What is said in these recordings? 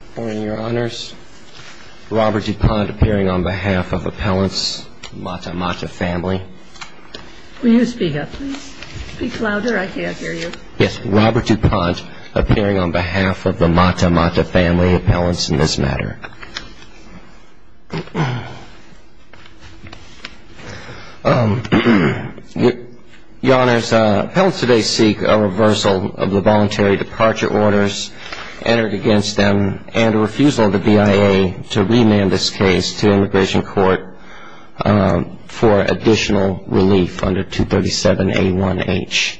Good morning, Your Honors. Robert DuPont appearing on behalf of Appellant's Mata Mata family. Will you speak up, please? Speak louder. I can't hear you. Yes. Robert DuPont appearing on behalf of the Mata Mata family appellants in this matter. Your Honors, appellants today seek a reversal of the voluntary departure orders entered against them and a refusal of the BIA to remand this case to immigration court for additional relief under 237A1H.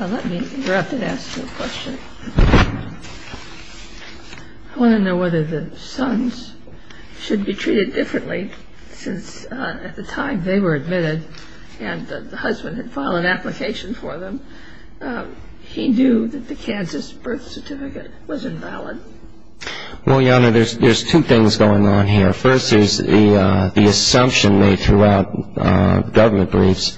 Let me interrupt and ask you a question. I want to know whether the sons should be treated differently since at the time they were admitted and the husband had filed an application for them, he knew that the Kansas birth certificate was invalid. Well, Your Honor, there's two things going on here. First is the assumption made throughout government briefs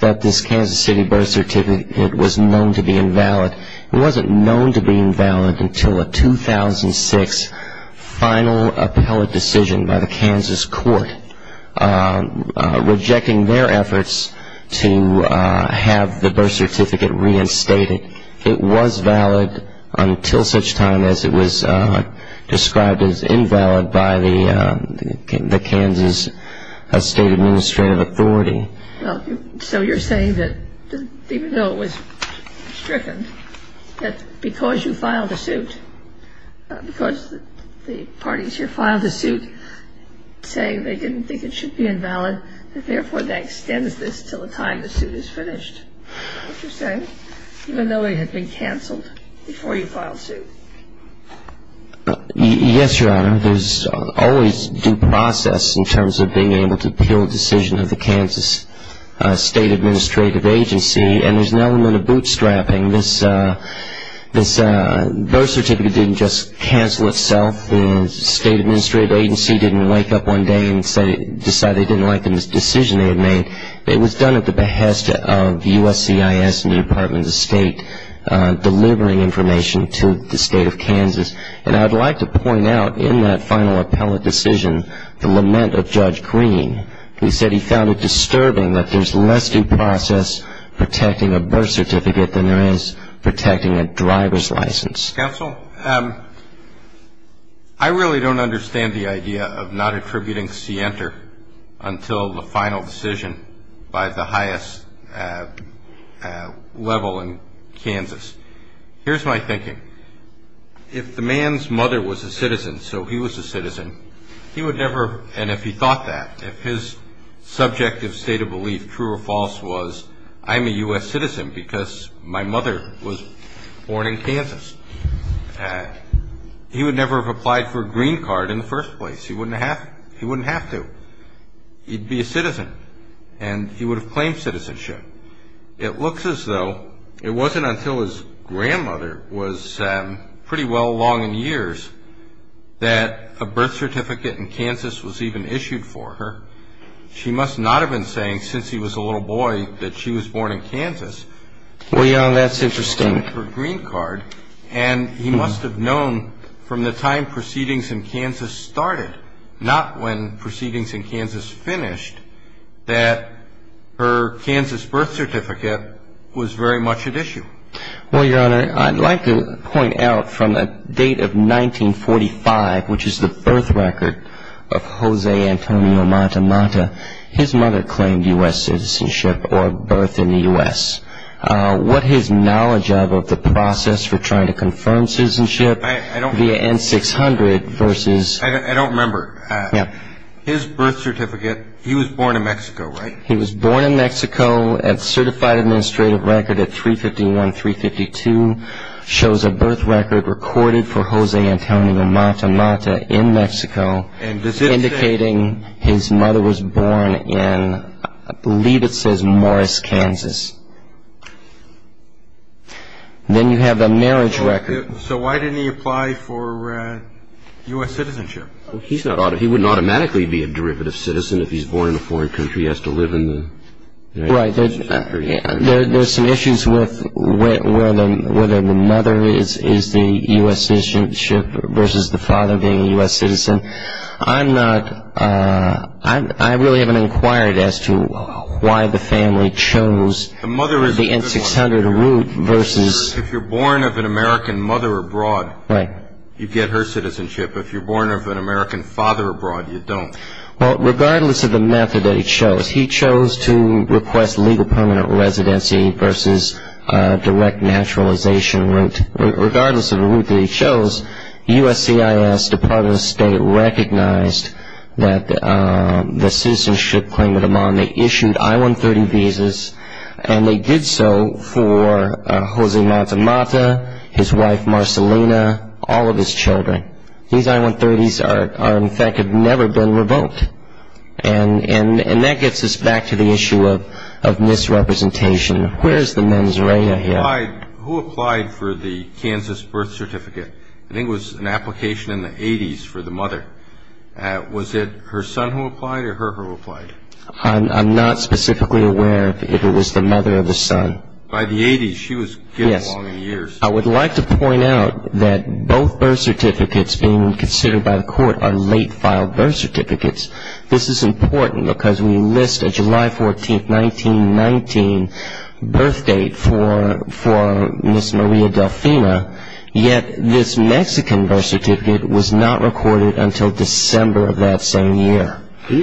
that this Kansas City birth certificate was known to be invalid. It wasn't known to be invalid until a 2006 final appellate decision by the Kansas court rejecting their efforts to have the birth certificate reinstated. It was valid until such time as it was described as invalid by the Kansas State Administrative Authority. Well, so you're saying that even though it was stricken, that because you filed a suit, because the parties here filed a suit saying they didn't think it should be invalid, that therefore that extends this until the time the suit is finished? Is that what you're saying? Even though it had been canceled before you filed suit? Yes, Your Honor. There's always due process in terms of being able to appeal a decision of the Kansas State Administrative Agency. And there's an element of bootstrapping. This birth certificate didn't just cancel itself. The State Administrative Agency didn't wake up one day and decide they didn't like the decision they had made. It was done at the behest of USCIS and the Department of State delivering information to the State of Kansas. And I'd like to point out in that final appellate decision the lament of Judge Green, who said he found it disturbing that there's less due process protecting a birth certificate than there is protecting a driver's license. Counsel? I really don't understand the idea of not attributing scienter until the final decision by the highest level in Kansas. Here's my thinking. If the man's mother was a citizen, so he was a citizen, he would never, and if he thought that, if his subjective state of belief, true or false, was I'm a U.S. citizen because my mother was born in Kansas, he would never have applied for a green card in the first place. He wouldn't have to. He'd be a citizen, and he would have claimed citizenship. It looks as though it wasn't until his grandmother was pretty well along in years that a birth certificate in Kansas was even issued for her. She must not have been saying since he was a little boy that she was born in Kansas. Well, yeah, that's interesting. And he must have known from the time proceedings in Kansas started, not when proceedings in Kansas finished, that her Kansas birth certificate was very much at issue. Well, Your Honor, I'd like to point out from the date of 1945, which is the birth record of Jose Antonio Matamata, his mother claimed U.S. citizenship or birth in the U.S. What his knowledge of the process for trying to confirm citizenship via N-600 versus... I don't remember. His birth certificate, he was born in Mexico, right? He was born in Mexico. A certified administrative record at 351-352 shows a birth record recorded for Jose Antonio Matamata in Mexico, indicating his mother was born in, I believe it says, Morris, Kansas. Then you have the marriage record. So why didn't he apply for U.S. citizenship? He wouldn't automatically be a derivative citizen if he's born in a foreign country. He has to live in the United States. There's some issues with whether the mother is the U.S. citizenship versus the father being a U.S. citizen. I really haven't inquired as to why the family chose the N-600 route versus... If you're born of an American mother abroad, you get her citizenship. If you're born of an American father abroad, you don't. Well, regardless of the method that he chose, he chose to request legal permanent residency versus a direct naturalization route. Regardless of the route that he chose, USCIS, Department of State, recognized that the citizenship claim of the mom. They issued I-130 visas, and they did so for Jose Matamata, his wife Marcelina, all of his children. These I-130s are, in fact, have never been revoked. And that gets us back to the issue of misrepresentation. Where is the mens rea here? Who applied for the Kansas birth certificate? I think it was an application in the 80s for the mother. Was it her son who applied or her who applied? I'm not specifically aware if it was the mother or the son. By the 80s, she was getting along in years. I would like to point out that both birth certificates being considered by the court are late-filed birth certificates. This is important because we list a July 14, 1919 birth date for Ms. Maria Delfina, yet this Mexican birth certificate was not recorded until December of that same year.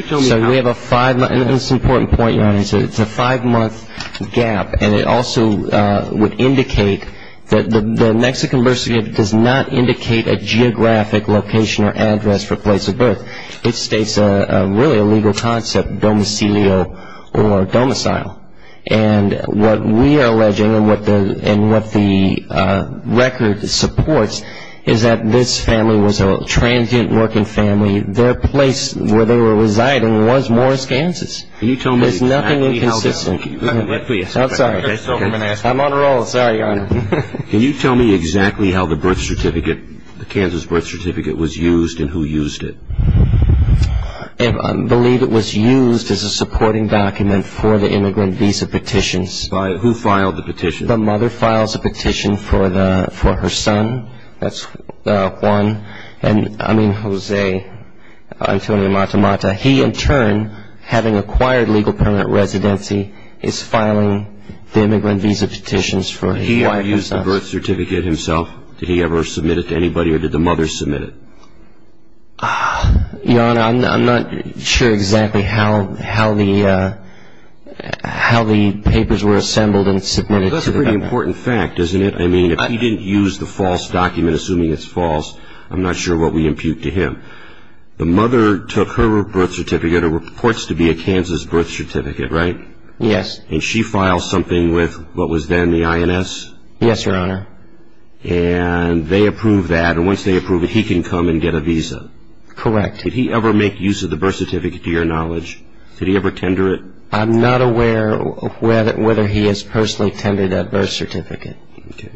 So we have a five-month, and this is an important point, Your Honor, it's a five-month gap, and it also would indicate that the Mexican birth certificate does not indicate a geographic location or address for place of birth. It states really a legal concept, domicilio or domicile. And what we are alleging and what the record supports is that this family was a transient working family. Their place where they were residing was Morris, Kansas. There's nothing inconsistent. I'm sorry. I'm on a roll. Sorry, Your Honor. Can you tell me exactly how the birth certificate, the Kansas birth certificate, was used and who used it? I believe it was used as a supporting document for the immigrant visa petitions. Who filed the petition? The mother files a petition for her son, Juan, I mean Jose Antonio Matamata. He, in turn, having acquired legal permanent residency, is filing the immigrant visa petitions for his wife and son. Did he ever use the birth certificate himself? Did he ever submit it to anybody or did the mother submit it? Your Honor, I'm not sure exactly how the papers were assembled and submitted to the mother. That's a pretty important fact, isn't it? I mean, if he didn't use the false document, assuming it's false, I'm not sure what we impute to him. Your Honor, the mother took her birth certificate. It reports to be a Kansas birth certificate, right? Yes. And she files something with what was then the INS? Yes, Your Honor. And they approve that. And once they approve it, he can come and get a visa. Correct. Did he ever make use of the birth certificate, to your knowledge? Did he ever tender it? I'm not aware whether he has personally tendered that birth certificate. Okay.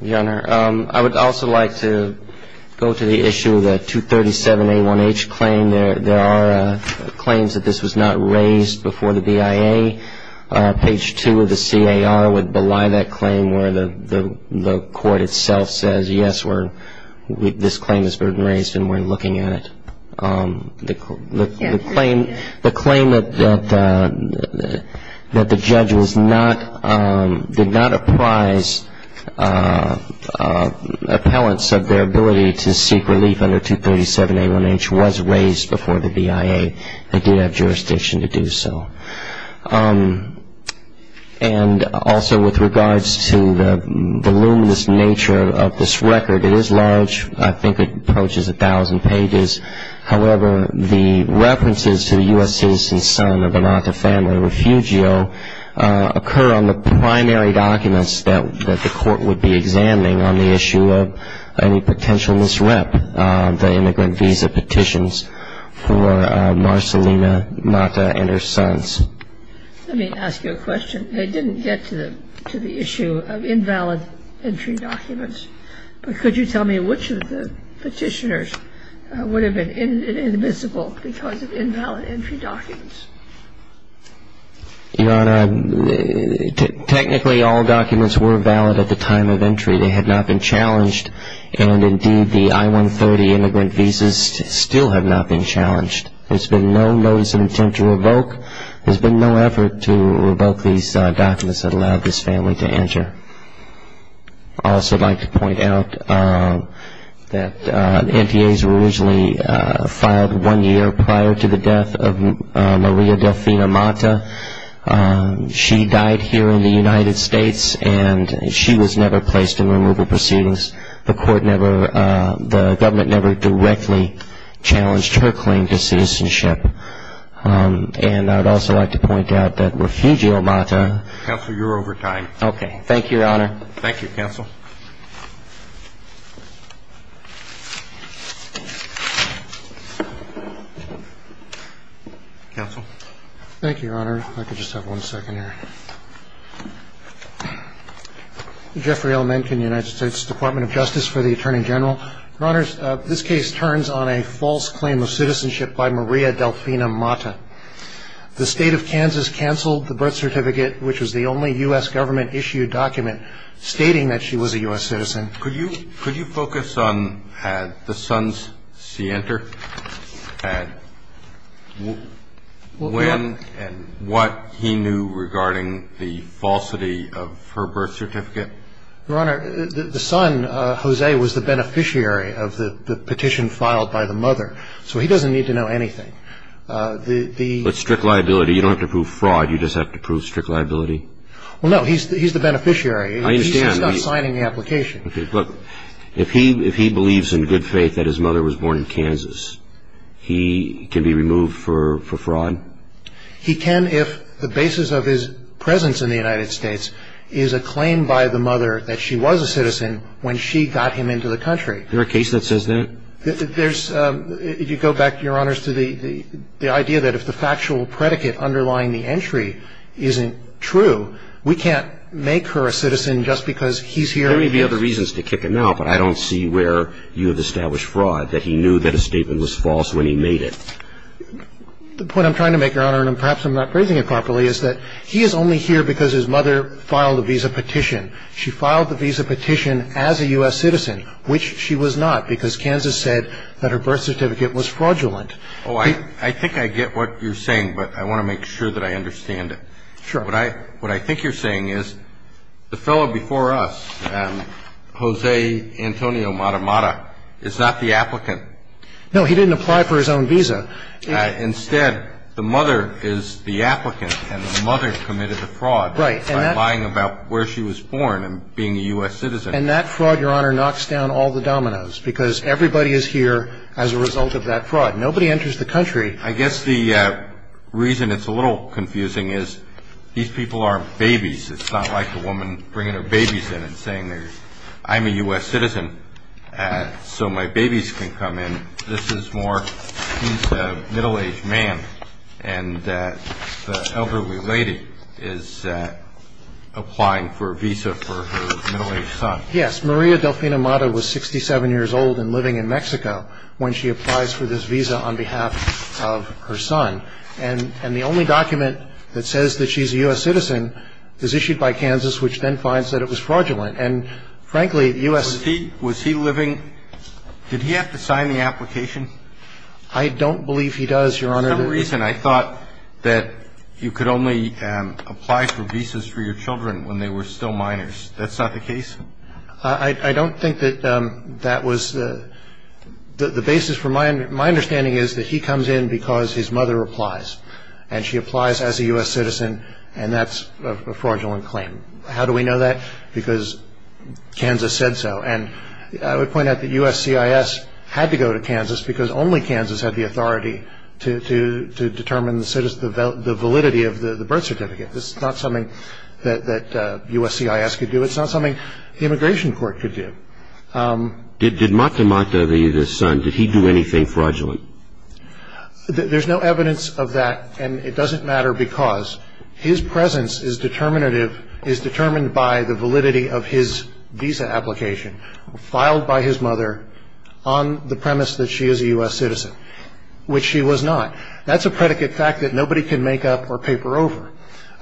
Your Honor, I would also like to go to the issue of the 237A1H claim. There are claims that this was not raised before the BIA. Page 2 of the CAR would belie that claim where the court itself says, yes, this claim is burden raised and we're looking at it. The claim that the judge did not apprise appellants of their ability to seek relief under 237A1H was raised before the BIA. They did have jurisdiction to do so. And also with regards to the voluminous nature of this record, it is large. I think it approaches 1,000 pages. However, the references to the U.S. citizen's son of the Mata family, Refugio, occur on the primary documents that the court would be examining on the issue of any potential misrep of the immigrant visa petitions for Marcelina Mata and her sons. Let me ask you a question. I didn't get to the issue of invalid entry documents, but could you tell me which of the petitioners, would have been invisible because of invalid entry documents? Your Honor, technically all documents were valid at the time of entry. They had not been challenged, and indeed the I-130 immigrant visas still have not been challenged. There's been no notice of attempt to revoke. There's been no effort to revoke these documents that allowed this family to enter. I'd also like to point out that NTAs were originally filed one year prior to the death of Maria Delfina Mata. She died here in the United States, and she was never placed in removal proceedings. The government never directly challenged her claim to citizenship. And I'd also like to point out that Refugio Mata. Counselor, you're over time. Okay, thank you, Your Honor. Thank you, Counsel. Thank you, Your Honor. I could just have one second here. Jeffrey L. Mencken, United States Department of Justice for the Attorney General. Your Honors, this case turns on a false claim of citizenship by Maria Delfina Mata. The State of Kansas canceled the birth certificate, which was the only U.S. government-issued document stating that she was a U.S. citizen. Could you focus on the son's scienter and what he knew regarding the falsity of her birth certificate? Your Honor, the son, Jose, was the beneficiary of the petition filed by the mother, so he doesn't need to know anything. But strict liability, you don't have to prove fraud, you just have to prove strict liability? Well, no, he's the beneficiary. I understand. He's just not signing the application. Okay, look, if he believes in good faith that his mother was born in Kansas, he can be removed for fraud? He can if the basis of his presence in the United States is a claim by the mother that she was a citizen when she got him into the country. Is there a case that says that? If you go back, Your Honors, to the idea that if the factual predicate underlying the entry isn't true, we can't make her a citizen just because he's here. There may be other reasons to kick him out, but I don't see where you have established fraud that he knew that a statement was false when he made it. The point I'm trying to make, Your Honor, and perhaps I'm not phrasing it properly, is that he is only here because his mother filed a visa petition. She filed the visa petition as a U.S. citizen, which she was not, because Kansas said that her birth certificate was fraudulent. Oh, I think I get what you're saying, but I want to make sure that I understand it. Sure. What I think you're saying is the fellow before us, Jose Antonio Matamata, is not the applicant. No, he didn't apply for his own visa. Instead, the mother is the applicant, and the mother committed the fraud by lying about where she was born. And being a U.S. citizen. And that fraud, Your Honor, knocks down all the dominoes, because everybody is here as a result of that fraud. Nobody enters the country. I guess the reason it's a little confusing is these people are babies. It's not like the woman bringing her babies in and saying, I'm a U.S. citizen, so my babies can come in. This is more, he's a middle-aged man, and the elderly lady is applying for a visa for her middle-aged son. Yes. Maria Delfina Mata was 67 years old and living in Mexico when she applies for this visa on behalf of her son. And the only document that says that she's a U.S. citizen is issued by Kansas, which then finds that it was fraudulent. And, frankly, U.S. Was he living, did he have to sign the application? I don't believe he does, Your Honor. For some reason I thought that you could only apply for visas for your children when they were still minors. That's not the case? I don't think that that was the basis. My understanding is that he comes in because his mother applies. And she applies as a U.S. citizen, and that's a fraudulent claim. How do we know that? Because Kansas said so. And I would point out that USCIS had to go to Kansas because only Kansas had the authority to determine the validity of the birth certificate. This is not something that USCIS could do. It's not something the Immigration Court could do. Did Mata Mata, the son, did he do anything fraudulent? There's no evidence of that, and it doesn't matter because his presence is determinative, is determined by the validity of his visa application filed by his mother on the premise that she is a U.S. citizen, which she was not. That's a predicate fact that nobody can make up or paper over.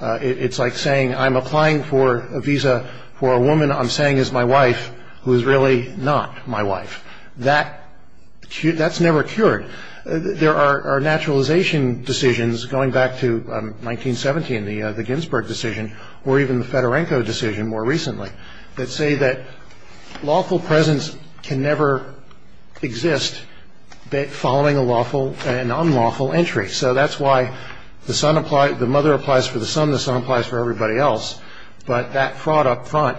It's like saying I'm applying for a visa for a woman I'm saying is my wife who is really not my wife. That's never cured. There are naturalization decisions going back to 1970 in the Ginsburg decision or even the Fedorenko decision more recently that say that lawful presence can never exist following a lawful and unlawful entry. So that's why the son applies, the mother applies for the son, the son applies for everybody else. But that fraud up front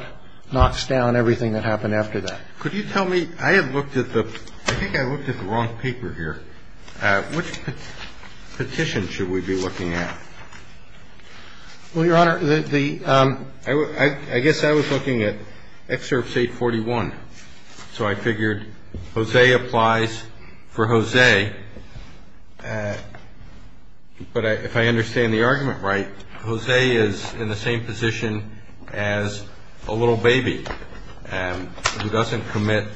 knocks down everything that happened after that. Could you tell me, I had looked at the, I think I looked at the wrong paper here. Which petition should we be looking at? Well, Your Honor, the, I guess I was looking at Excerpts 841. So I figured Jose applies for Jose, but if I understand the argument right, Jose is in the same position as a little baby who doesn't commit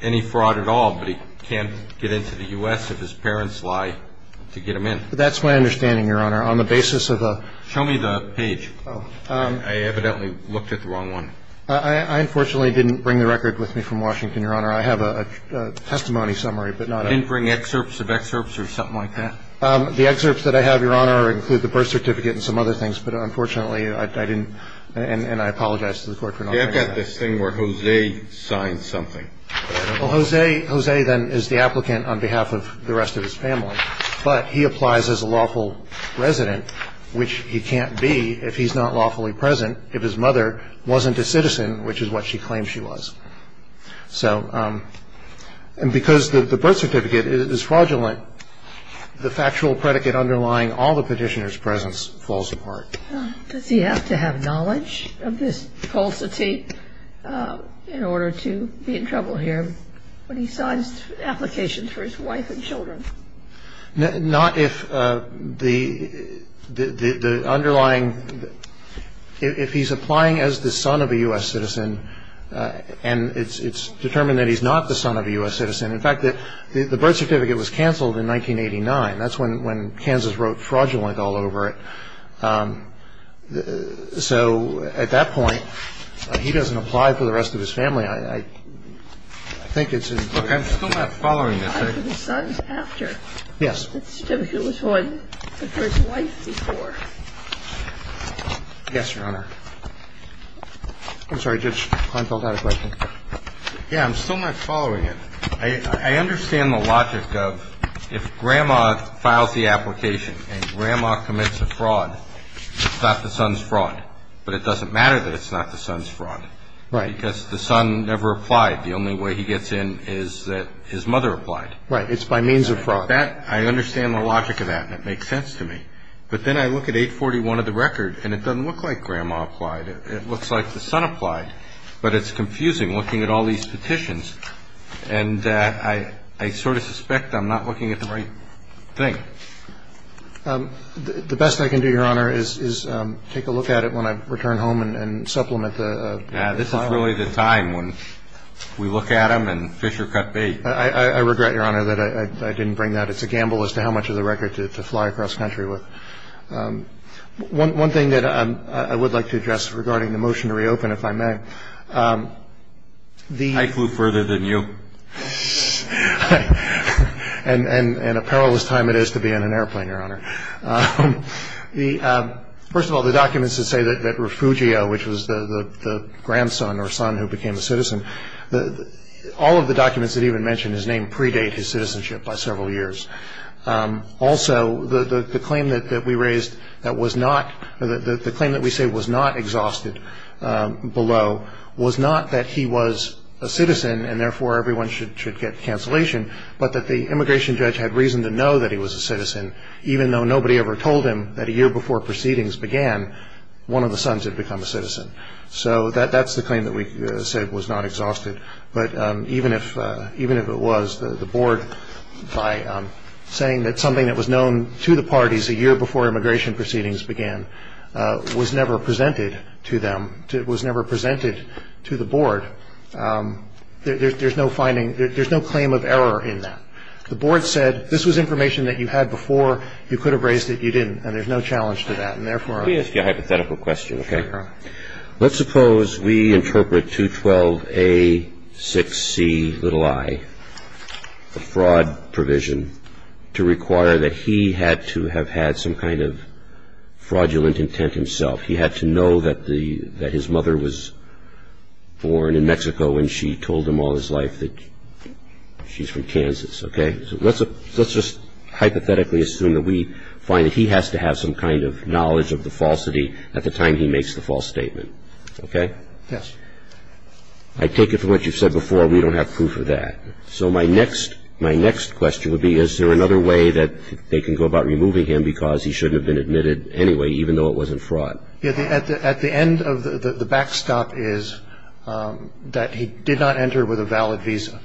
any fraud at all, but he can't get into the U.S. if his parents lie to get him in. That's my understanding, Your Honor, on the basis of a. Show me the page. I evidently looked at the wrong one. I unfortunately didn't bring the record with me from Washington, Your Honor. I have a testimony summary, but not. You didn't bring excerpts of excerpts or something like that? The excerpts that I have, Your Honor, include the birth certificate and some other things. But unfortunately, I didn't, and I apologize to the Court for not bringing that. You have got this thing where Jose signs something. Well, Jose, then, is the applicant on behalf of the rest of his family. But he applies as a lawful resident, which he can't be if he's not lawfully present, if his mother wasn't a citizen, which is what she claimed she was. So because the birth certificate is fraudulent, the factual predicate underlying all the petitioner's presence falls apart. Does he have to have knowledge of this falsity in order to be in trouble here when he signs applications for his wife and children? Not if the underlying ‑‑ if he's applying as the son of a U.S. citizen and it's determined that he's not the son of a U.S. citizen. In fact, the birth certificate was canceled in 1989. That's when Kansas wrote fraudulent all over it. So at that point, he doesn't apply for the rest of his family. I think it's ‑‑ Look, I'm still not following this. I'm still not following it. I understand the logic of if grandma files the application and grandma commits a fraud, it's not the son's fraud. But it doesn't matter that it's not the son's fraud. Right. Because the son never applied. It doesn't matter that it's not the son's fraud. Right. It's by means of fraud. I understand the logic of that and it makes sense to me. But then I look at 841 of the record and it doesn't look like grandma applied. It looks like the son applied. But it's confusing looking at all these petitions. And I sort of suspect I'm not looking at the right thing. The best I can do, Your Honor, is take a look at it when I return home and supplement the file. Yeah, this is really the time when we look at them and fish are cut bait. I regret, Your Honor, that I didn't bring that. It's a gamble as to how much of the record to fly across country with. One thing that I would like to address regarding the motion to reopen, if I may. I flew further than you. And a perilous time it is to be in an airplane, Your Honor. First of all, the documents that say that Refugio, which was the grandson or son who became a citizen, all of the documents that even mention his name predate his citizenship by several years. Also, the claim that we say was not exhausted below was not that he was a citizen and therefore everyone should get cancellation, but that the immigration judge had reason to know that he was a citizen, even though nobody ever told him that a year before proceedings began, one of the sons had become a citizen. So that's the claim that we said was not exhausted. But even if it was, the Board, by saying that something that was known to the parties a year before immigration proceedings began, was never presented to them, was never presented to the Board, there's no finding, there's no claim of error in that. The Board said this was information that you had before. You could have raised it. You didn't. And there's no challenge to that. And therefore, I'm sure. Let me ask you a hypothetical question, okay? Let's suppose we interpret 212A6Ci, the fraud provision, to require that he had to have had some kind of fraudulent intent himself. He had to know that his mother was born in Mexico and she told him all his life that she's from Kansas, okay? So let's just hypothetically assume that we find that he has to have some kind of knowledge of the falsity at the time he makes the false statement, okay? Yes. I take it from what you've said before, we don't have proof of that. So my next question would be, is there another way that they can go about removing him because he shouldn't have been admitted anyway, even though it wasn't fraud? At the end of the backstop is that he did not enter with a valid visa.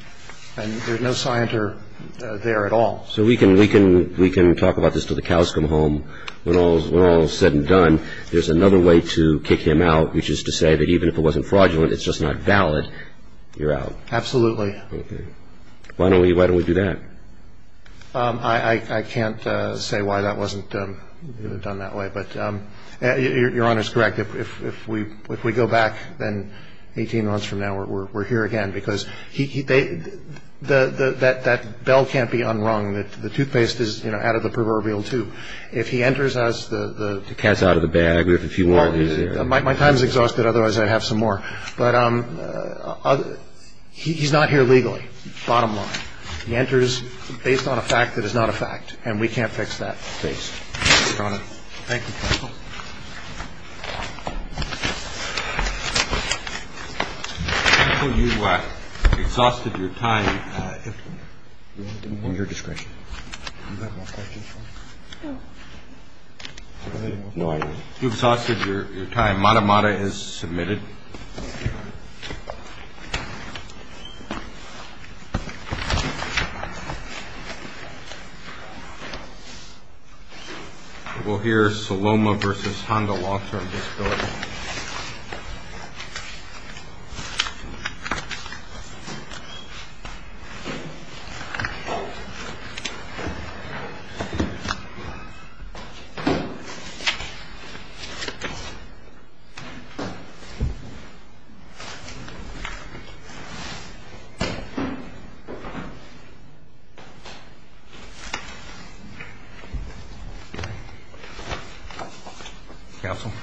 And there's no scienter there at all. So we can talk about this till the cows come home. When all is said and done, there's another way to kick him out, which is to say that even if it wasn't fraudulent, it's just not valid, you're out. Absolutely. Okay. Why don't we do that? I can't say why that wasn't done that way. But Your Honor is correct. If we go back then 18 months from now, we're here again. Because that bell can't be unrung. The toothpaste is out of the proverbial tube. If he enters as the cat's out of the bag. My time is exhausted. Otherwise I'd have some more. But he's not here legally, bottom line. He enters based on a fact that is not a fact. And we can't fix that. Thank you, Your Honor. Thank you, counsel. Counsel, you exhausted your time. You have more questions? No, I didn't. You exhausted your time. Mata Mata is submitted. We'll hear Saloma versus Honda law firm disability. Counsel.